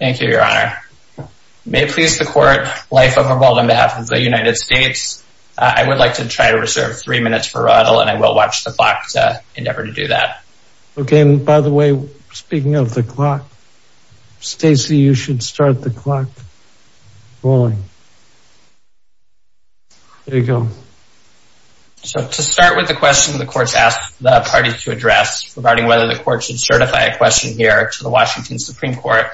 May it please the Court, Life of a Bald on behalf of the United States, I would like to try to reserve three minutes for Raudel and I will watch the clock to endeavor to do that. Okay, and by the way, speaking of the clock, Stacey, you should start the clock rolling. There you go. So to start with the question the Court has asked the parties to address regarding whether the Court should certify a question here to the Washington Supreme Court.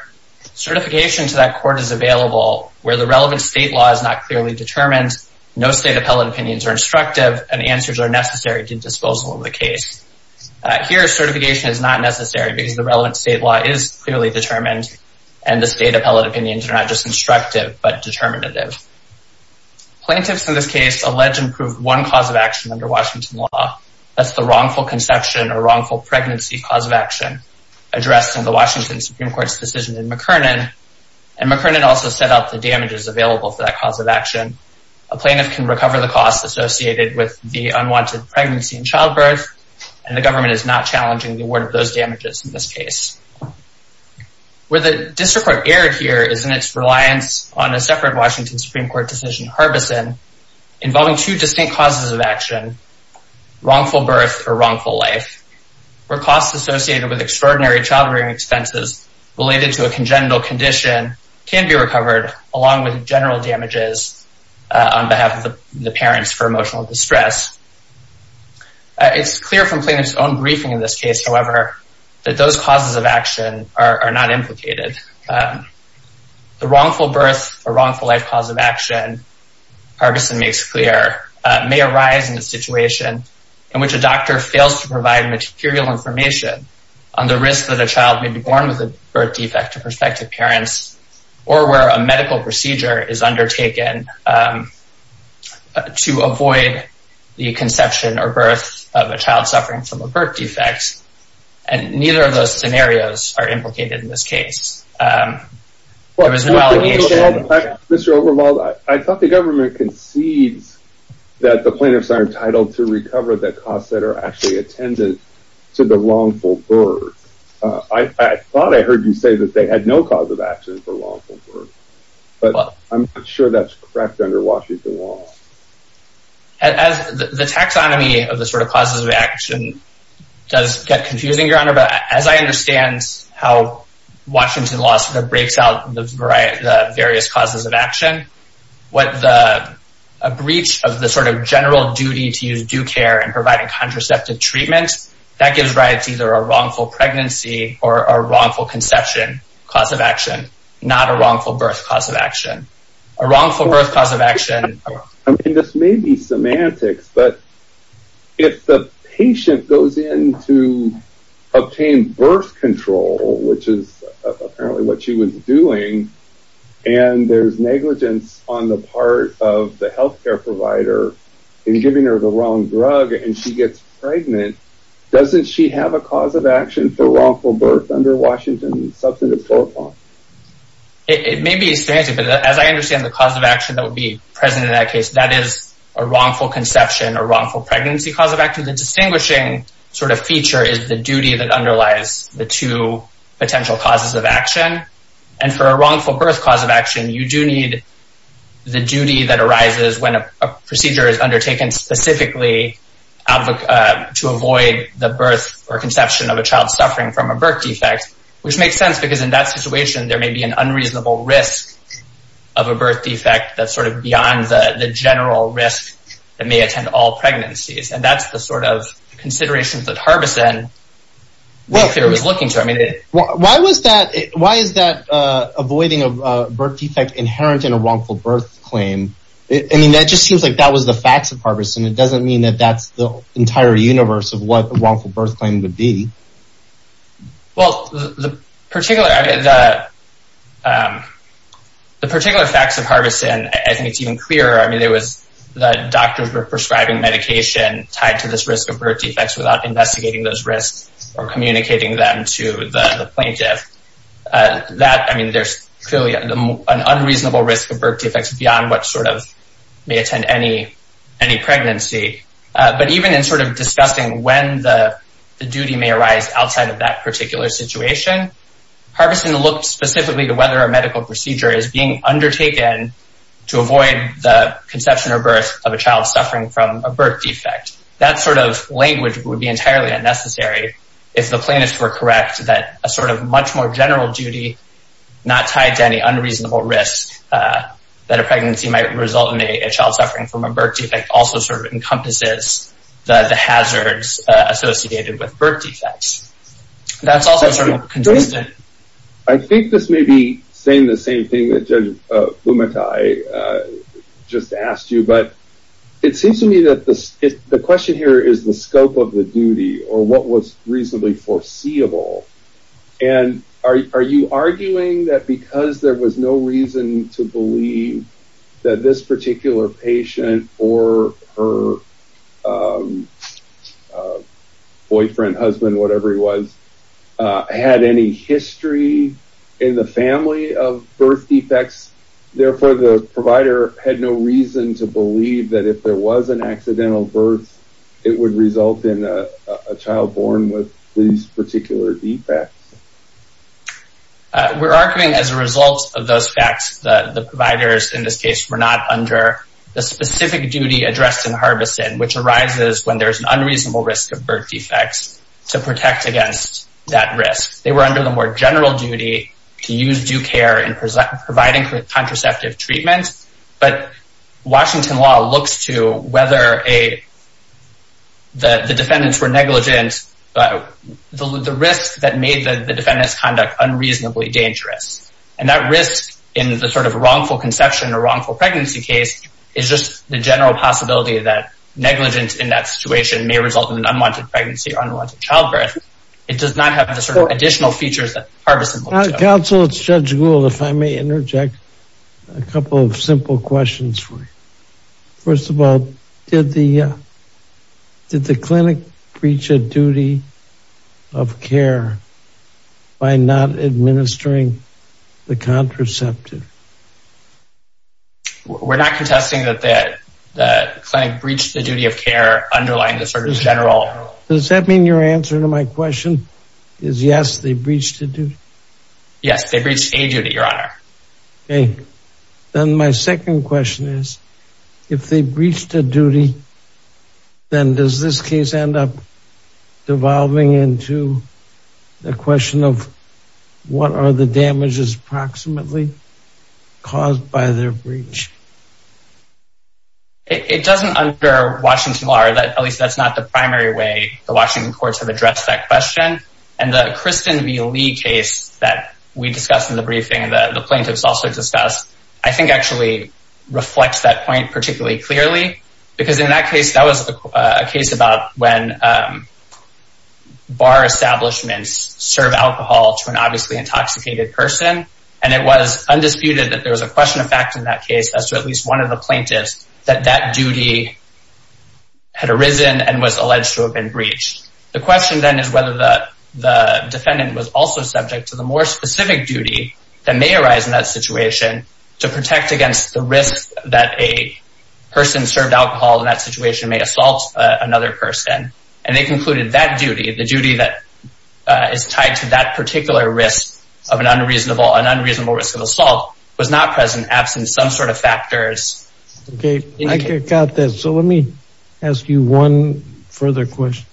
Certification to that Court is available where the relevant state law is not clearly determined, no state appellate opinions are instructive, and answers are necessary to disposal of the case. Here, certification is not necessary because the relevant state law is clearly determined and the state appellate opinions are not just instructive, but determinative. Plaintiffs in this case allege and prove one cause of action under Washington law, that's the wrongful conception or wrongful pregnancy cause of action, addressed in the Washington Supreme Court's decision in McKernan, and McKernan also set out the damages available for that cause of action. A plaintiff can recover the cost associated with the unwanted pregnancy and childbirth and the government is not challenging the award of those damages in this case. Where the District Court erred here is in its reliance on a separate Washington Supreme Court decision, Harbison, involving two distinct causes of action, wrongful birth or wrongful life, where costs associated with extraordinary child-rearing expenses related to a congenital condition can be recovered along with general damages on behalf of the parents for emotional distress. It's clear from plaintiff's own briefing in this case, however, that those causes of action are not implicated. The wrongful birth or wrongful life cause of action, Harbison makes clear, may arise in a situation in which a doctor fails to provide material information on the risk that a child may be born with a birth defect to prospective parents or where a medical procedure is undertaken to avoid the conception or birth of a child suffering from a birth defect, and neither of those scenarios are implicated in this case. Mr. Oberwald, I thought the government concedes that the plaintiffs are entitled to recover the costs that are actually attended to the wrongful birth. I thought I heard you say that they had no cause of action for wrongful birth, but I'm not sure that's correct under Washington law. The taxonomy of the sort of causes of action does get confusing, Your Honor, but as I understand how Washington law sort of breaks out the various causes of action, what the breach of the sort of general duty to use due care and providing contraceptive treatment, that gives rights either a wrongful pregnancy or a wrongful conception cause of action, not a wrongful birth cause of action. I mean, this may be semantics, but if the patient goes in to obtain birth control, which is apparently what she was doing, and there's negligence on the part of the health care provider in giving her the wrong drug and she gets pregnant, doesn't she have a cause of action for wrongful birth under Washington substance abuse law? It may be a strangeness, but as I understand the cause of action that would be present in that case, that is a wrongful conception, a wrongful pregnancy cause of action. The distinguishing sort of feature is the duty that underlies the two potential causes of action. And for a wrongful birth cause of action, you do need the duty that arises when a procedure is undertaken specifically to avoid the birth or conception of a child suffering from a In that situation, there may be an unreasonable risk of a birth defect that's sort of beyond the general risk that may attend all pregnancies. And that's the sort of considerations that Harbison was looking for. Why was that? Why is that avoiding a birth defect inherent in a wrongful birth claim? I mean, that just seems like that was the facts of Harbison. It doesn't mean that that's the entire universe of what a wrongful birth claim would be. Well, the particular facts of Harbison, I think it's even clearer. I mean, there was the doctors were prescribing medication tied to this risk of birth defects without investigating those risks or communicating them to the plaintiff. I mean, there's clearly an unreasonable risk of birth defects beyond what sort of may attend any pregnancy. But even in sort of discussing when the duty may arise outside of that particular situation, Harbison looked specifically to whether a medical procedure is being undertaken to avoid the conception or birth of a child suffering from a birth defect. That sort of language would be entirely unnecessary if the plaintiffs were correct that a sort of much more general duty not tied to any unreasonable risk that a pregnancy might result in a child suffering from a birth defect also sort of encompasses the hazards associated with birth defects. That's also sort of consistent. I think this may be saying the same thing that Judge Bumatai just asked you. But it seems to me that the question here is the scope of the duty or what was reasonably foreseeable. And are you arguing that because there was no reason to believe that this particular patient or her boyfriend, husband, whatever he was, had any history in the family of birth defects, therefore the provider had no reason to believe that if there was an accidental birth, it would result in a child born with these particular defects? We're arguing as a result of those facts that the providers in this case were not under the specific duty addressed in Harbison, which arises when there's an unreasonable risk of birth defects to protect against that risk. They were under the more general duty to use due care in providing contraceptive treatment. But Washington law looks to whether the defendants were negligent, the risk that made the defendants conduct unreasonably dangerous. And that risk in the sort of wrongful conception or wrongful pregnancy case is just the general possibility that negligence in that situation may result in an unwanted pregnancy or unwanted childbirth. It does not have the sort of additional features that Harbison looks to. Counsel, it's Judge Gould. If I may interject a couple of simple questions for you. First of all, did the did the clinic breach a duty of care by not administering the contraceptive? We're not contesting that the clinic breached the duty of care underlying the service general. Does that mean your answer to my question is yes, they breached the duty? Yes, they breached a duty, your honor. And then my second question is, if they breached a duty, then does this case end up devolving into the question of what are the damages approximately caused by their breach? It doesn't under Washington law, or at least that's not the primary way the Washington courts have addressed that question. And the Kristen V. Lee case that we discussed in the briefing and the plaintiffs also discussed, I think actually reflects that point particularly clearly, because in that case, that was a case about when bar establishments serve alcohol to an obviously intoxicated person. And it was undisputed that there was a question of fact in that case as to at least one of the plaintiffs that that duty had arisen and was alleged to have been breached. The question then is whether the defendant was also subject to the more specific duty that may arise in that situation to protect against the risk that a person served alcohol in that situation may assault another person. And they concluded that duty, the duty that is tied to that particular risk of an unreasonable risk of assault was not present, absent some sort of factors. Okay, I got that. So let me ask you one further question.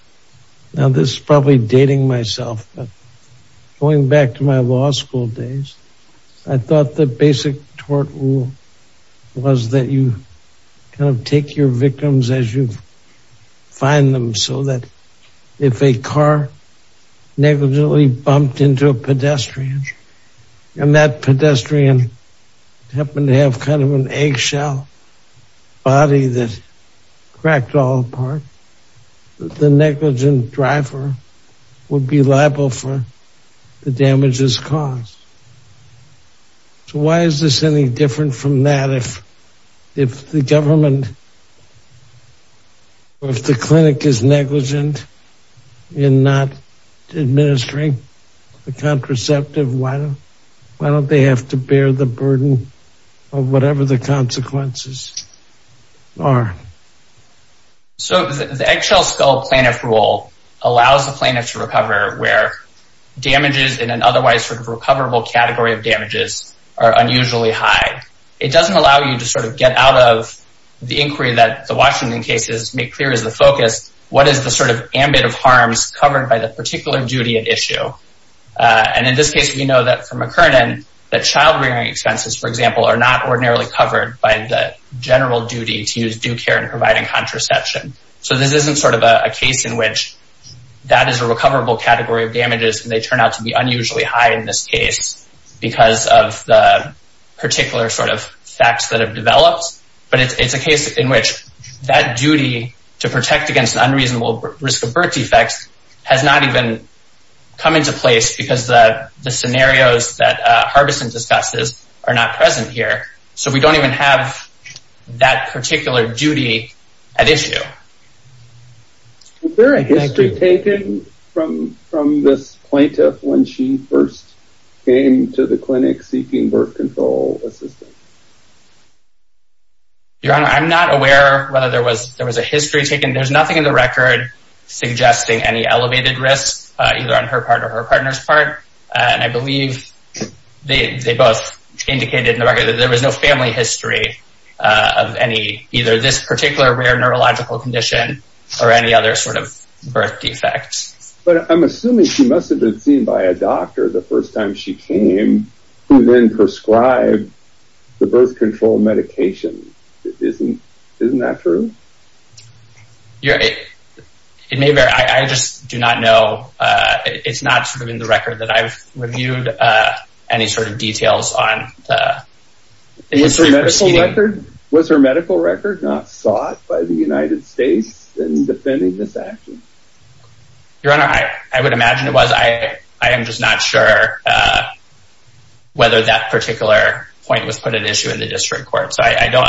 Now, this is probably dating myself, but going back to my law school days, I thought the basic tort rule was that you kind of take your victims as you find them so that if a car negatively bumped into a pedestrian and that pedestrian happened to have kind of an eggshell body that cracked all apart, the negligent driver would be liable for the damages caused. So why is this any different from that? If if the government, if the clinic is negligent in not administering the contraceptive, why are. So the eggshell skull plaintiff rule allows the plaintiff to recover where damages in an otherwise recoverable category of damages are unusually high. It doesn't allow you to sort of get out of the inquiry that the Washington cases make clear is the focus. What is the sort of ambit of harms covered by the particular duty at issue? And in this case, we know that from a current that child rearing expenses, for example, are not ordinarily covered by the general duty to use due care and providing contraception. So this isn't sort of a case in which that is a recoverable category of damages and they turn out to be unusually high in this case because of the particular sort of facts that have developed. But it's a case in which that duty to protect against an unreasonable risk of birth defects has not even come into place because the scenarios that Harbison discusses are not present here. So we don't even have that particular duty at issue. Is there a history taken from from this plaintiff when she first came to the clinic seeking birth control assistance? Your Honor, I'm not aware whether there was there was a history taken. There's nothing in the record suggesting any elevated risk either on her part or her partner's part. And I believe they both indicated in the record that there was no family history of any either this particular rare neurological condition or any other sort of birth defects. But I'm assuming she must have been seen by a doctor the first time she came who then prescribed the birth control medication. Isn't isn't that true? It may vary. I just do not know. It's not sort of in the record that I've reviewed any sort of details on the history. Was her medical record not sought by the United States in defending this action? Your Honor, I would imagine it was. I am just not sure whether that particular point was put at issue in the district court. So I know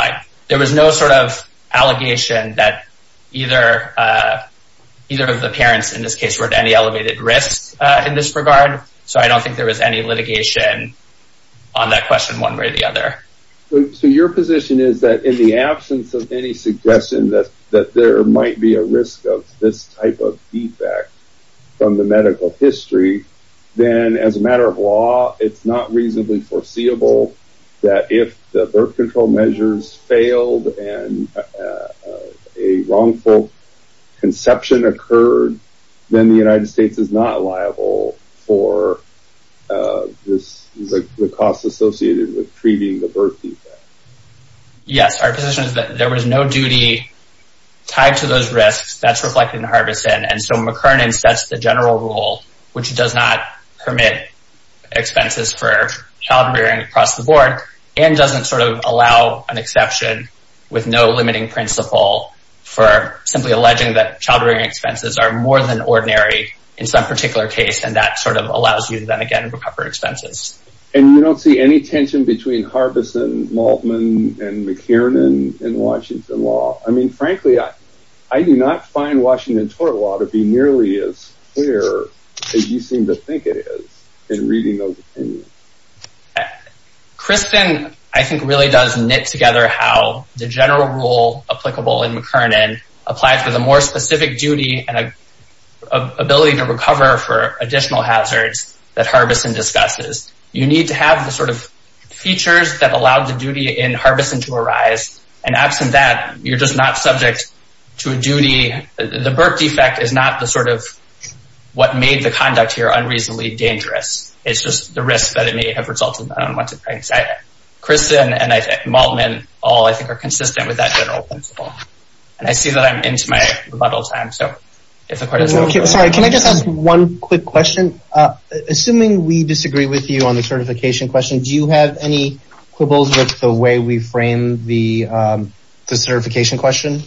there was no sort of allegation that either either of the parents in this case were at any elevated risk in this regard. So I don't think there was any litigation on that question one way or the other. So your position is that in the absence of any suggestion that that there might be a risk of this type of defect from the medical history, then as a matter of law, it's not If birth control measures failed and a wrongful conception occurred, then the United States is not liable for the costs associated with treating the birth defect. Yes, our position is that there was no duty tied to those risks. That's reflected in Harbison. And so McKernan sets the general rule, which does not permit expenses for childbearing across the board and doesn't sort of allow an exception with no limiting principle for simply alleging that childbearing expenses are more than ordinary in some particular case, and that sort of allows you to then again recover expenses. And you don't see any tension between Harbison, Maltman, and McKernan in Washington law? I mean, frankly, I do not find Washington tort law to be nearly as clear as you seem to think it is in reading those opinions. Crispin, I think, really does knit together how the general rule applicable in McKernan applies with a more specific duty and ability to recover for additional hazards that Harbison discusses. You need to have the sort of features that allowed the duty in Harbison to arise. And absent that, you're just not subject to a duty. The birth defect is not the sort of what made the conduct here unreasonably dangerous. It's just the risk that it may have resulted in unwanted pregnancy. Crispin and Maltman all, I think, are consistent with that general principle. And I see that I'm into my rebuttal time. Sorry, can I just ask one quick question? Assuming we disagree with you on the certification question, do you have any quibbles with the way we frame the certification question?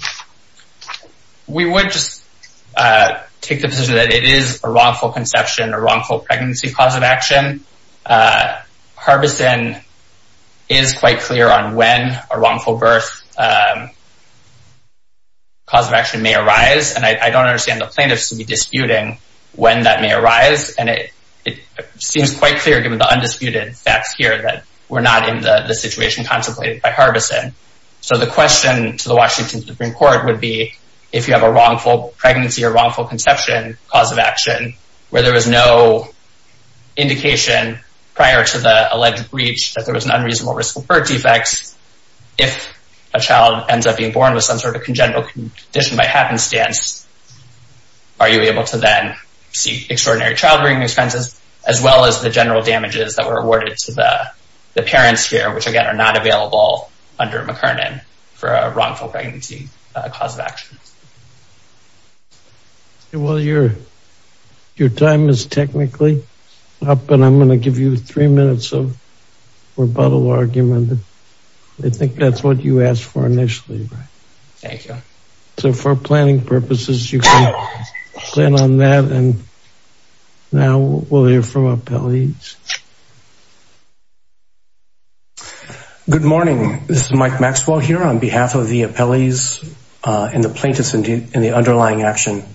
We would just take the position that it is a wrongful conception, a wrongful pregnancy cause of action. Harbison is quite clear on when a wrongful birth cause of action may arise. And I don't understand the plaintiffs to be disputing when that may arise. And it seems quite clear, given the undisputed facts here, that we're not in the situation contemplated by Harbison. So the question to the Washington Supreme Court would be, if you have a wrongful pregnancy or wrongful conception cause of action, where there was no indication prior to the alleged breach that there was an unreasonable risk of birth defects, if a child ends up being born with some sort of congenital condition by happenstance, are you able to then seek extraordinary child-rearing expenses, as well as the general damages that were awarded to the parents here, which, again, are not available under McKernan for a wrongful pregnancy cause of action? Well, your time is technically up, and I'm going to give you three minutes of rebuttal argument. I think that's what you asked for initially. Thank you. So for planning purposes, you can plan on that. And now we'll hear from appellees. Good morning. This is Mike Maxwell here on behalf of the appellees and the plaintiffs in the underlying action.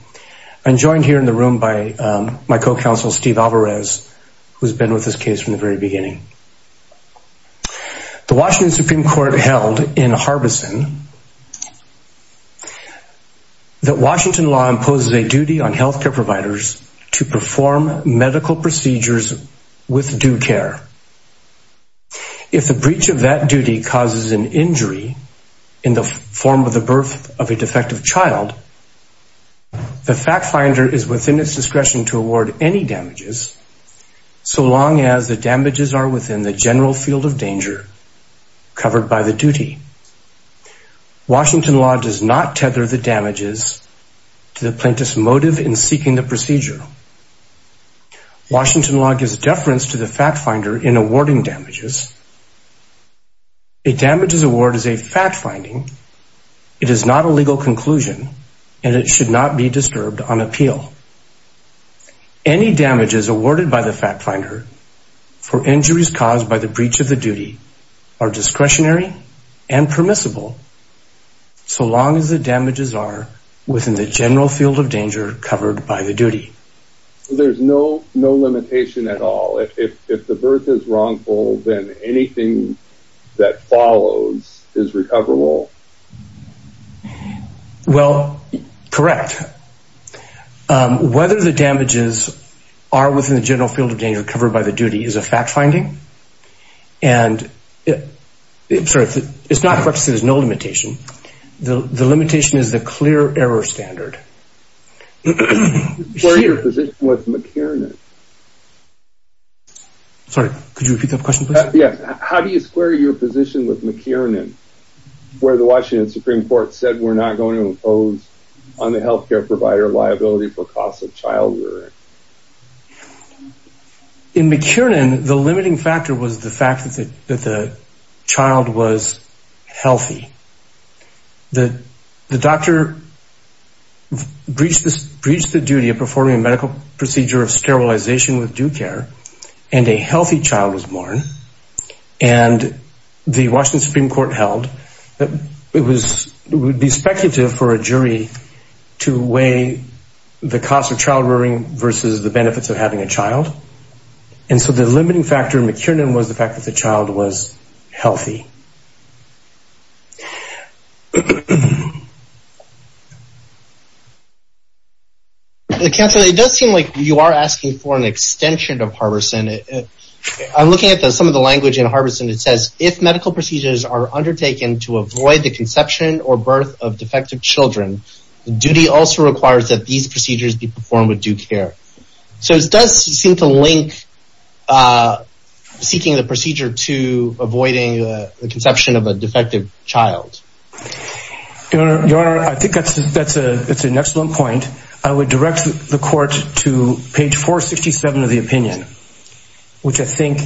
I'm joined here in the room by my co-counsel, Steve Alvarez, who's been with this case from the very beginning. The Washington Supreme Court held in Harbison that Washington law imposes a duty on health care providers to perform medical procedures with due care. If the breach of that duty causes an injury in the form of the birth of a defective child, the fact finder is within its discretion to award any damages, so long as the damages are within the general field of danger covered by the duty. Washington law does not tether the damages to the plaintiff's motive in seeking the procedure. Washington law gives deference to the fact finder in awarding damages. A damages award is a fact finding. It is not a legal conclusion and it should not be disturbed on appeal. Any damages awarded by the fact finder for injuries caused by the breach of the duty are discretionary and permissible, so long as the damages are within the general field of danger covered by the duty. There's no limitation at all. If the birth is wrongful, then anything that follows is recoverable. Well, correct. Whether the damages are within the general field of danger covered by the duty is a fact finding. And it's not that there's no limitation. The limitation is the clear error standard. Square your position with McKiernan. Sorry, could you repeat that question, please? Yes. How do you square your position with McKiernan, where the Washington Supreme Court said we're not going to impose on the health care provider liability for costs of child rearing? In McKiernan, the limiting factor was the fact that the child was healthy. The doctor breached the duty of performing a medical procedure of sterilization with due care, and a healthy child was born, and the Washington Supreme Court held that it would be speculative for a jury to weigh the cost of child rearing versus the benefits of having a child. And so the limiting factor in McKiernan was the fact that the child was healthy. Counselor, it does seem like you are asking for an extension of Harbison. I'm looking at some of the language in Harbison that says, if medical procedures are undertaken to avoid the conception or birth of defective children, duty also requires that these procedures be performed with due care. So it does seem to link seeking the procedure to avoiding the conception of a defective child. Your Honor, I think that's an excellent point. I would direct the court to page 467 of the opinion, which I think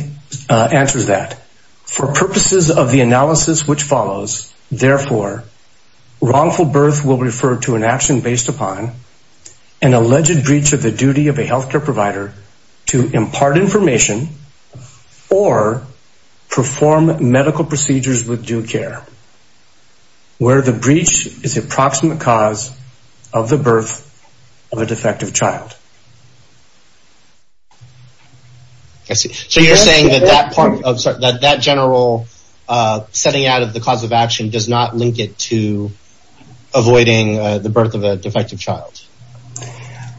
answers that. For purposes of the analysis which follows, therefore, wrongful birth will refer to an action based upon an alleged breach of the duty of a health care provider to impart information or perform medical procedures with due care, where the breach is the approximate cause of the birth of a defective child. So you're saying that that general setting out of the cause of action does not link it to avoiding the birth of a defective child.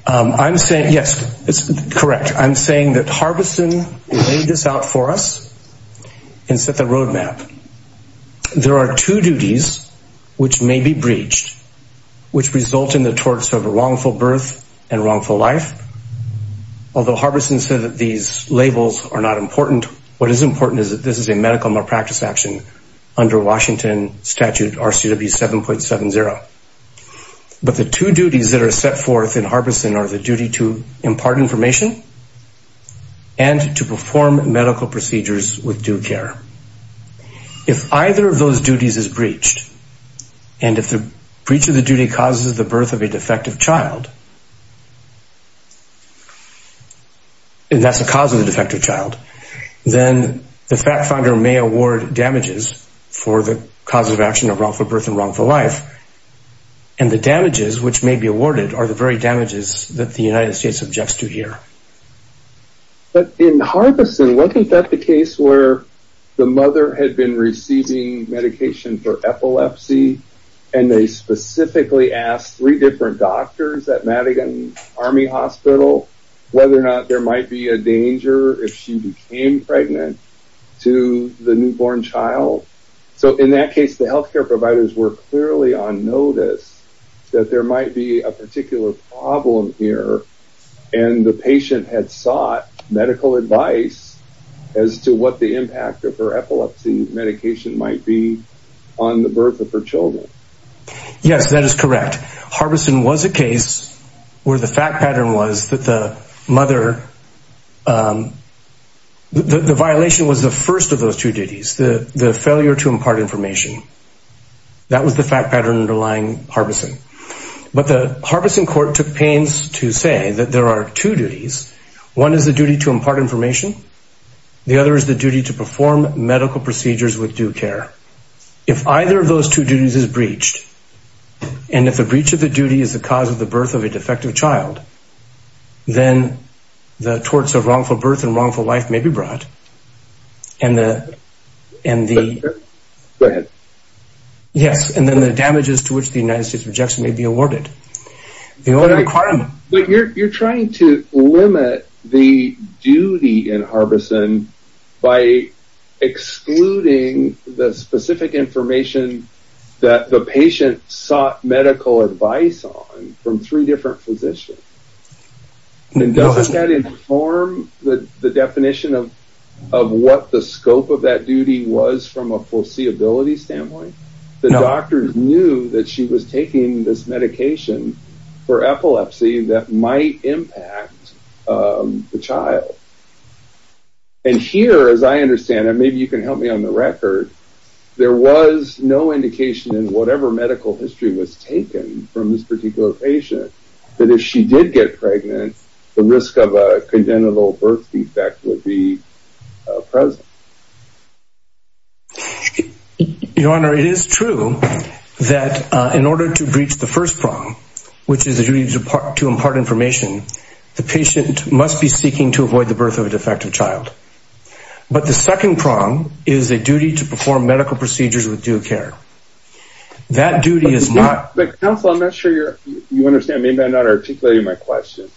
I'm saying, yes, it's correct. I'm saying that Harbison laid this out for us and set the roadmap. There are two duties which may be breached, which result in the torts of a wrongful birth and wrongful life. Although Harbison said that these labels are not important, what is important is that this is a medical malpractice action under Washington statute RCW 7.70. But the two duties that are set forth in Harbison are the duty to impart information and to perform medical procedures with due care. If either of those duties is breached, and if the breach of the duty causes the birth of a defective child, and that's the cause of the defective child, then the fact finder may award damages for the cause of action of wrongful birth and wrongful life. And the damages which may be awarded are the very damages that the United States objects to here. But in Harbison, wasn't that the case where the mother had been receiving medication for epilepsy and they specifically asked three different doctors at Madigan Army Hospital whether or not there might be a danger if she became pregnant to the newborn child? So in that case, the health care providers were clearly on notice that there might be a particular problem here. And the patient had sought medical advice as to what the impact of her epilepsy medication might be on the birth of her children. Yes, that is correct. Harbison was a case where the fact pattern was that the mother, the violation was the first of those two duties, the failure to impart information. That was the fact pattern underlying Harbison. But the Harbison court took pains to say that there are two duties. One is the duty to impart information. The other is the duty to perform medical procedures with due care. If either of those two duties is breached, and if the breach of the duty is the cause of the birth of a defective child, then the torts of wrongful birth and wrongful life may be brought. Go ahead. Yes, and then the damages to which the United States rejects may be awarded. But you're trying to limit the duty in Harbison by excluding the specific information that the patient sought medical advice on from three different physicians. Doesn't that inform the definition of what the scope of that duty was from a foreseeability standpoint? No. The doctors knew that she was taking this medication for epilepsy that might impact the child. And here, as I understand, and maybe you can help me on the record, there was no indication in whatever medical history was taken from this particular patient that if she did get pregnant, the risk of a congenital birth defect would be present. Your Honor, it is true that in order to breach the first prong, which is the duty to impart information, the patient must be seeking to avoid the birth of a defective child. But the second prong is a duty to perform medical procedures with due care. That duty is not... Counsel, I'm not sure you understand. Maybe I'm not articulating my question.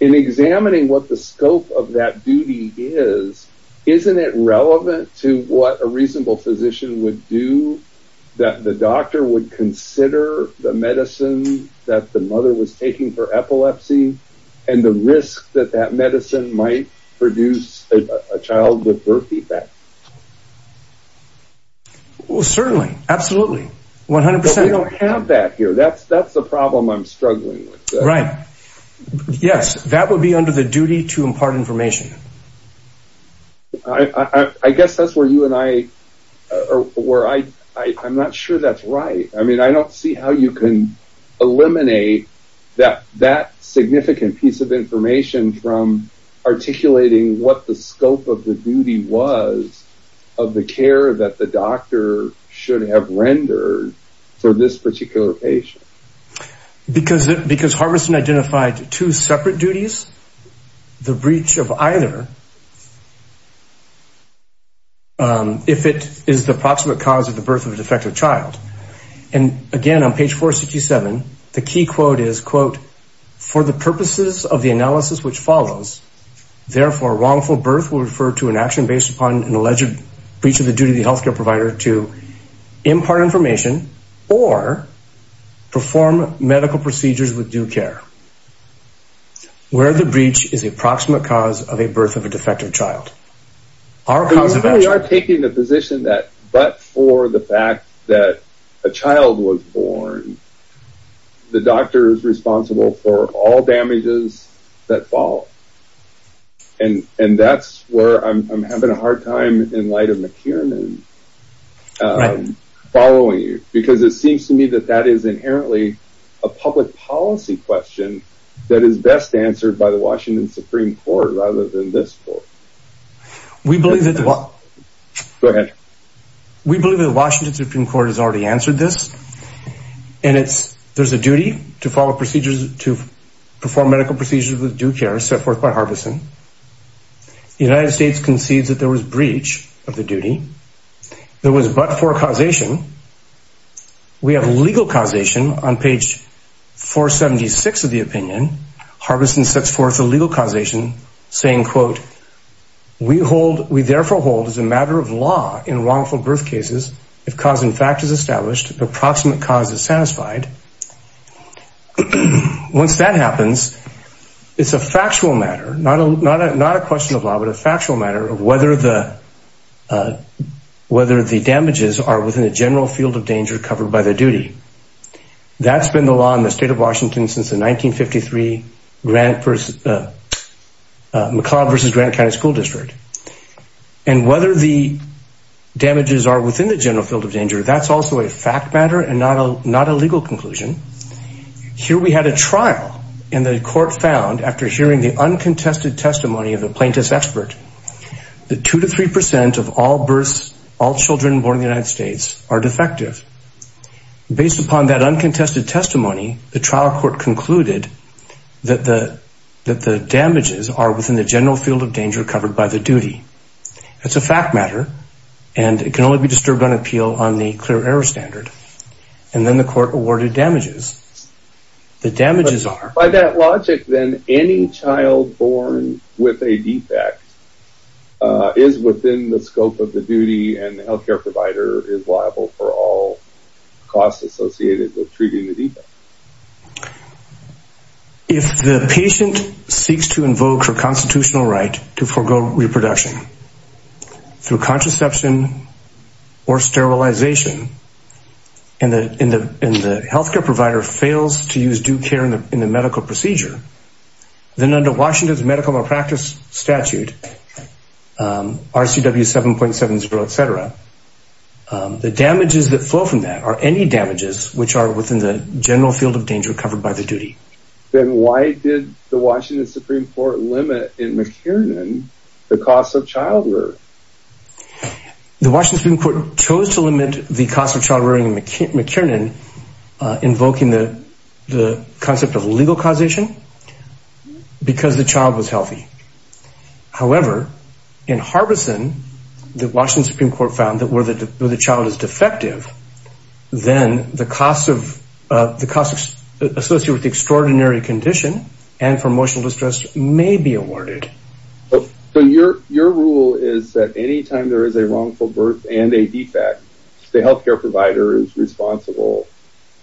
In examining what the scope of that duty is, isn't it relevant to what a reasonable physician would do that the doctor would consider the medicine that the mother was taking for epilepsy and the risk that that medicine might produce a child with birth defect? Well, certainly, absolutely, 100%. But we don't have that here. That's the problem I'm struggling with. Right. Yes, that would be under the duty to impart information. I guess that's where you and I... I'm not sure that's right. I mean, I don't see how you can eliminate that significant piece of information from articulating what the scope of the duty was of the care that the doctor should have rendered for this particular patient. Because Harvison identified two separate duties, the breach of either, if it is the proximate cause of the birth of a defective child. And, again, on page 467, the key quote is, quote, for the purposes of the analysis which follows, therefore, wrongful birth will refer to an action based upon an alleged breach of the duty of the health care provider to impart information or perform medical procedures with due care, where the breach is the proximate cause of a birth of a defective child. Our cause of action... We are taking the position that, but for the fact that a child was born, the doctor is responsible for all damages that fall. And that's where I'm having a hard time, in light of McKiernan, following you. Because it seems to me that that is inherently a public policy question that is best answered by the Washington Supreme Court rather than this court. We believe that the... Go ahead. We believe the Washington Supreme Court has already answered this. And it's... There's a duty to follow procedures, to perform medical procedures with due care set forth by Harbison. The United States concedes that there was breach of the duty. There was but for causation. We have legal causation on page 476 of the opinion. Harbison sets forth a legal causation saying, quote, We therefore hold as a matter of law in wrongful birth cases, if cause in fact is established, the approximate cause is satisfied. Once that happens, it's a factual matter, not a question of law, but a factual matter of whether the damages are within the general field of danger covered by the duty. McClellan versus Granite County School District. And whether the damages are within the general field of danger, that's also a fact matter and not a legal conclusion. Here we had a trial, and the court found, after hearing the uncontested testimony of the plaintiff's expert, that 2% to 3% of all births, all children born in the United States, are defective. Based upon that uncontested testimony, the trial court concluded that the damages are within the general field of danger covered by the duty. That's a fact matter, and it can only be disturbed on appeal on the clear error standard. And then the court awarded damages. The damages are... By that logic, then, any child born with a defect and the health care provider is liable for all costs associated with treating the defect. If the patient seeks to invoke her constitutional right to forego reproduction through contraception or sterilization, and the health care provider fails to use due care in the medical procedure, then under Washington's medical malpractice statute, RCW 7.70 et cetera, the damages that flow from that are any damages which are within the general field of danger covered by the duty. Then why did the Washington Supreme Court limit in McKiernan the cost of childbirth? The Washington Supreme Court chose to limit the cost of childbirth in McKiernan, invoking the concept of legal causation, because the child was healthy. However, in Harbison, the Washington Supreme Court found that where the child is defective, then the costs associated with the extraordinary condition and for emotional distress may be awarded. But your rule is that any time there is a wrongful birth and a defect, the health care provider is responsible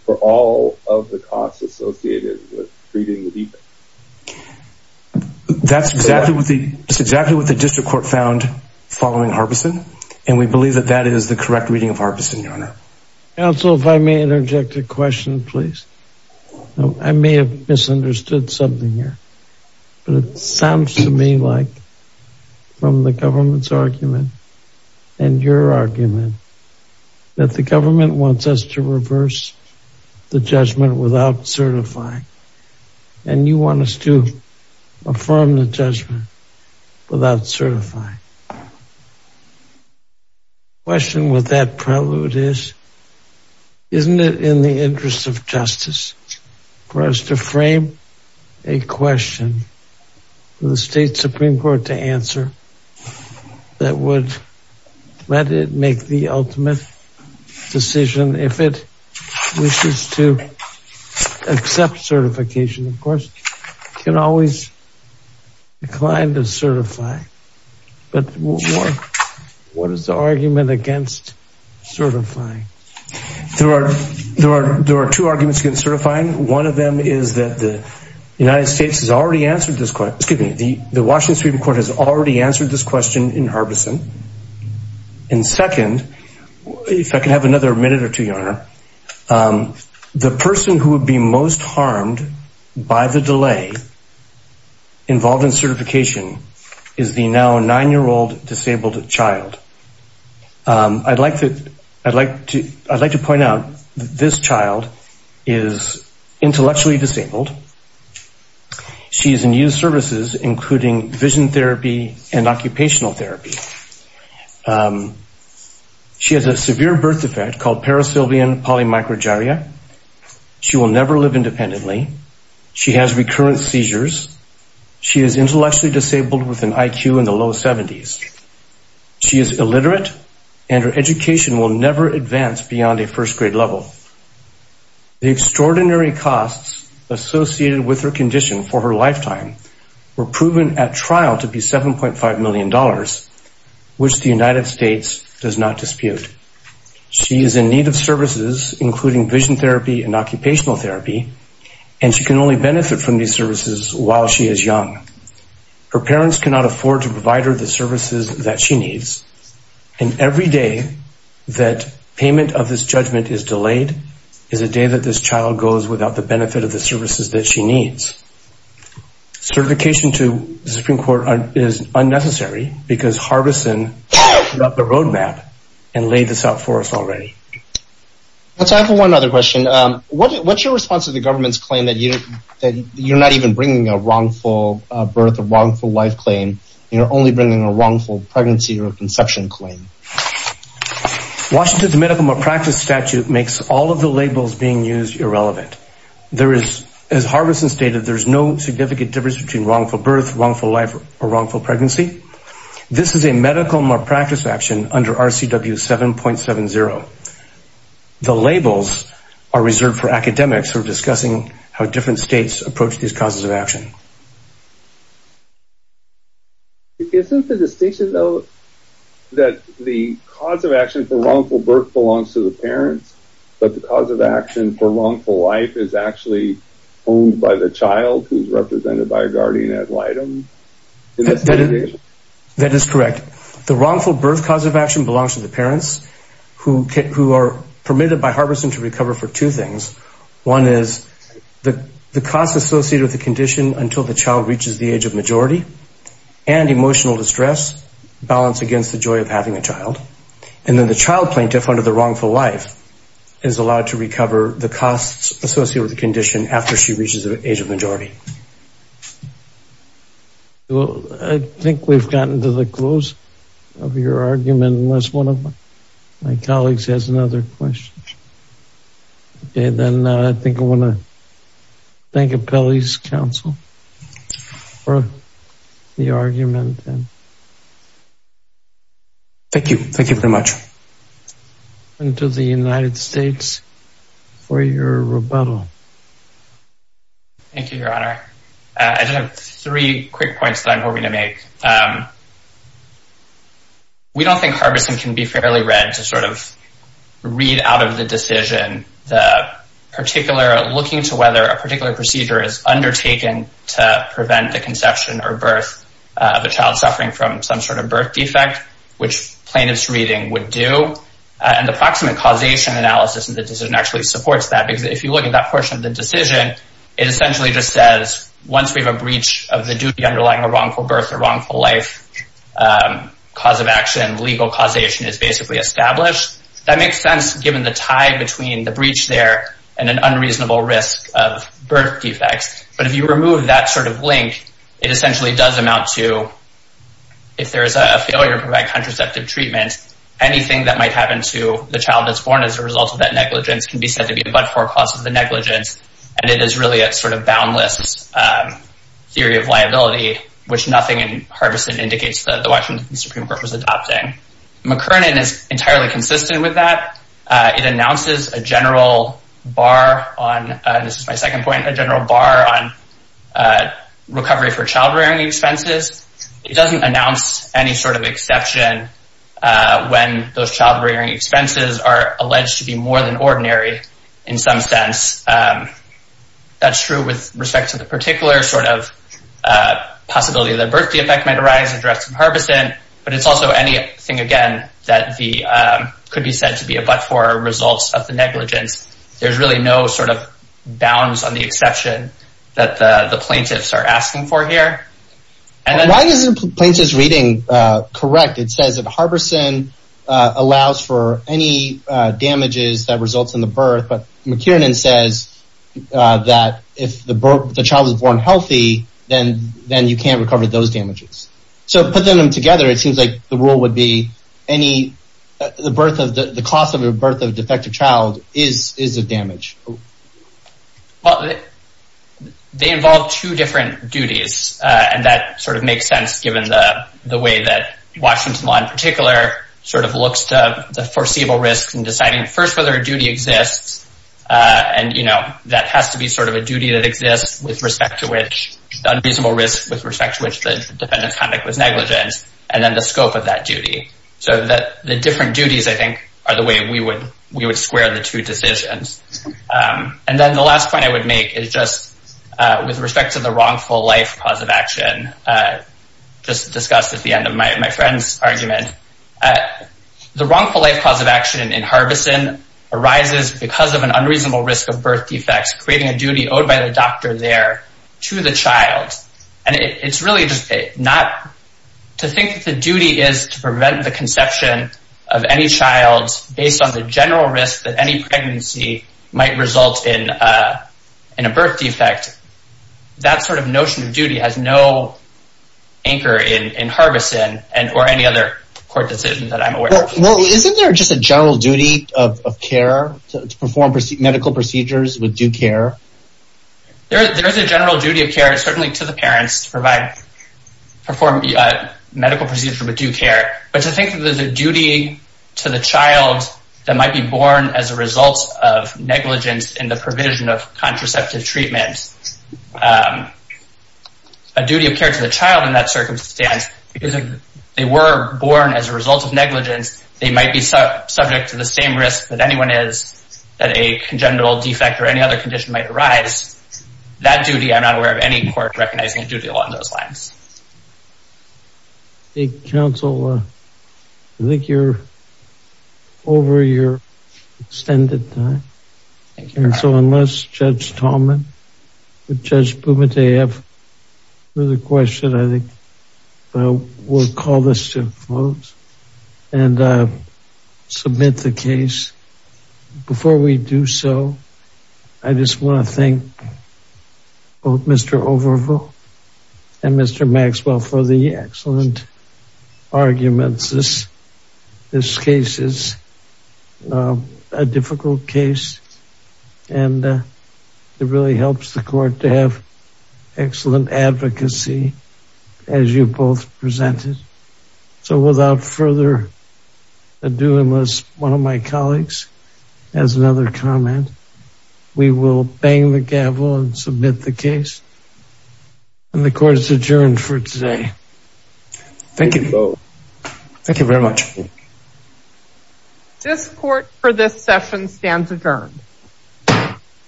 for all of the costs associated with treating the defect. That's exactly what the district court found following Harbison, and we believe that that is the correct reading of Harbison, Your Honor. Counsel, if I may interject a question, please. I may have misunderstood something here, but it sounds to me like, from the government's argument and your argument, that the government wants us to reverse the judgment without certifying, and you want us to affirm the judgment without certifying. The question with that prelude is, isn't it in the interest of justice for us to frame a question for the state Supreme Court to answer that would let it make the ultimate decision if it wishes to accept certification? Of course, it can always decline to certify, but what is the argument against certifying? There are two arguments against certifying. One of them is that the Washington Supreme Court has already answered this question in Harbison, and second, if I can have another minute or two, Your Honor, the person who would be most harmed by the delay involved in certification is the now nine-year-old disabled child. I'd like to point out that this child is intellectually disabled. She is in youth services, including vision therapy and occupational therapy. She has a severe birth defect called parasylvian polymicrogyria. She will never live independently. She has recurrent seizures. She is intellectually disabled with an IQ in the low 70s. She is illiterate, and her education will never advance beyond a first-grade level. The extraordinary costs associated with her condition for her lifetime were proven at trial to be $7.5 million, which the United States does not dispute. She is in need of services, including vision therapy and occupational therapy, and she can only benefit from these services while she is young. Her parents cannot afford to provide her the services that she needs, and every day that payment of this judgment is delayed is a day that this child goes without the benefit of the services that she needs. Certification to the Supreme Court is unnecessary because Harbison set up the roadmap and laid this out for us already. Let's ask one other question. What's your response to the government's claim that you're not even bringing a wrongful birth, a wrongful life claim, and you're only bringing a wrongful pregnancy or a conception claim? Washington's medical malpractice statute makes all of the labels being used irrelevant. There is, as Harbison stated, there is no significant difference between wrongful birth, wrongful life, or wrongful pregnancy. This is a medical malpractice action under RCW 7.70. The labels are reserved for academics who are discussing how different states approach these causes of action. Isn't the distinction, though, that the cause of action for wrongful birth belongs to the parents, but the cause of action for wrongful life is actually owned by the child who's represented by a guardian ad litem? That is correct. The wrongful birth cause of action belongs to the parents who are permitted by Harbison to recover for two things. One is the cost associated with the condition until the child reaches the age of majority and emotional distress, balance against the joy of having a child. And then the child plaintiff under the wrongful life is allowed to recover the costs associated with the condition after she reaches the age of majority. Well, I think we've gotten to the close of your argument, unless one of my colleagues has another question. Okay, then I think I want to thank Appellee's counsel for the argument. Thank you. Thank you very much. And to the United States for your rebuttal. Thank you, Your Honor. I just have three quick points that I'm hoping to make. We don't think Harbison can be fairly read to sort of read out of the decision, looking to whether a particular procedure is undertaken to prevent the conception or birth of a child suffering from some sort of birth defect, which plaintiff's reading would do. And the proximate causation analysis of the decision actually supports that, because if you look at that portion of the decision, it essentially just says, once we have a breach of the duty underlying a wrongful birth or wrongful life cause of action, legal causation is basically established. That makes sense, given the tie between the breach there and an unreasonable risk of birth defects. But if you remove that sort of link, it essentially does amount to, if there is a failure to provide contraceptive treatment, anything that might happen to the child that's born as a result of that negligence can be said to be a but-for cause of the negligence. And it is really a sort of boundless theory of liability, which nothing in Harbison indicates that the Washington Supreme Court was adopting. McKernan is entirely consistent with that. It announces a general bar on, and this is my second point, a general bar on recovery for child-rearing expenses. It doesn't announce any sort of exception when those child-rearing expenses are alleged to be more than ordinary in some sense. That's true with respect to the particular sort of possibility that a birth defect might arise, addressed in Harbison, but it's also anything, again, that could be said to be a but-for result of the negligence. There's really no sort of bounds on the exception that the plaintiffs are asking for here. Why isn't Plaintiff's reading correct? It says that Harbison allows for any damages that result in the birth, but McKernan says that if the child is born healthy, then you can't recover those damages. So put them together, it seems like the rule would be the cost of a birth of a defective child is a damage. Well, they involve two different duties, and that sort of makes sense given the way that Washington law in particular sort of looks to the foreseeable risks in deciding first whether a duty exists, and that has to be sort of a duty that exists with respect to which the unreasonable risk with respect to which the defendant's conduct was negligent, and then the scope of that duty. So the different duties, I think, are the way we would square the two decisions. And then the last point I would make is just with respect to the wrongful life cause of action just discussed at the end of my friend's argument. The wrongful life cause of action in Harbison arises because of an unreasonable risk of birth defects, creating a duty owed by the doctor there to the child. And it's really just not to think that the duty is to prevent the conception of any child based on the general risk that any pregnancy might result in a birth defect. That sort of notion of duty has no anchor in Harbison or any other court decision that I'm aware of. Well, isn't there just a general duty of care to perform medical procedures with due care? There is a general duty of care certainly to the parents to perform medical procedures with due care, but to think that there's a duty to the child that might be born as a result of negligence in the provision of contraceptive treatment. A duty of care to the child in that circumstance, because if they were born as a result of negligence, they might be subject to the same risk that anyone is that a congenital defect or any other condition might arise. That duty, I'm not aware of any court recognizing a duty along those lines. Thank you, counsel. I think you're over your extended time. Thank you. So unless Judge Tallman or Judge Bumate have further questions, I think we'll call this to a close and submit the case. Before we do so, I just want to thank both Mr. Overville and Mr. Maxwell for the excellent arguments. This case is a difficult case, and it really helps the court to have excellent advocacy as you both presented. So without further ado, unless one of my colleagues has another comment, we will bang the gavel and submit the case. And the court is adjourned for today. Thank you both. Thank you very much. This court for this session stands adjourned.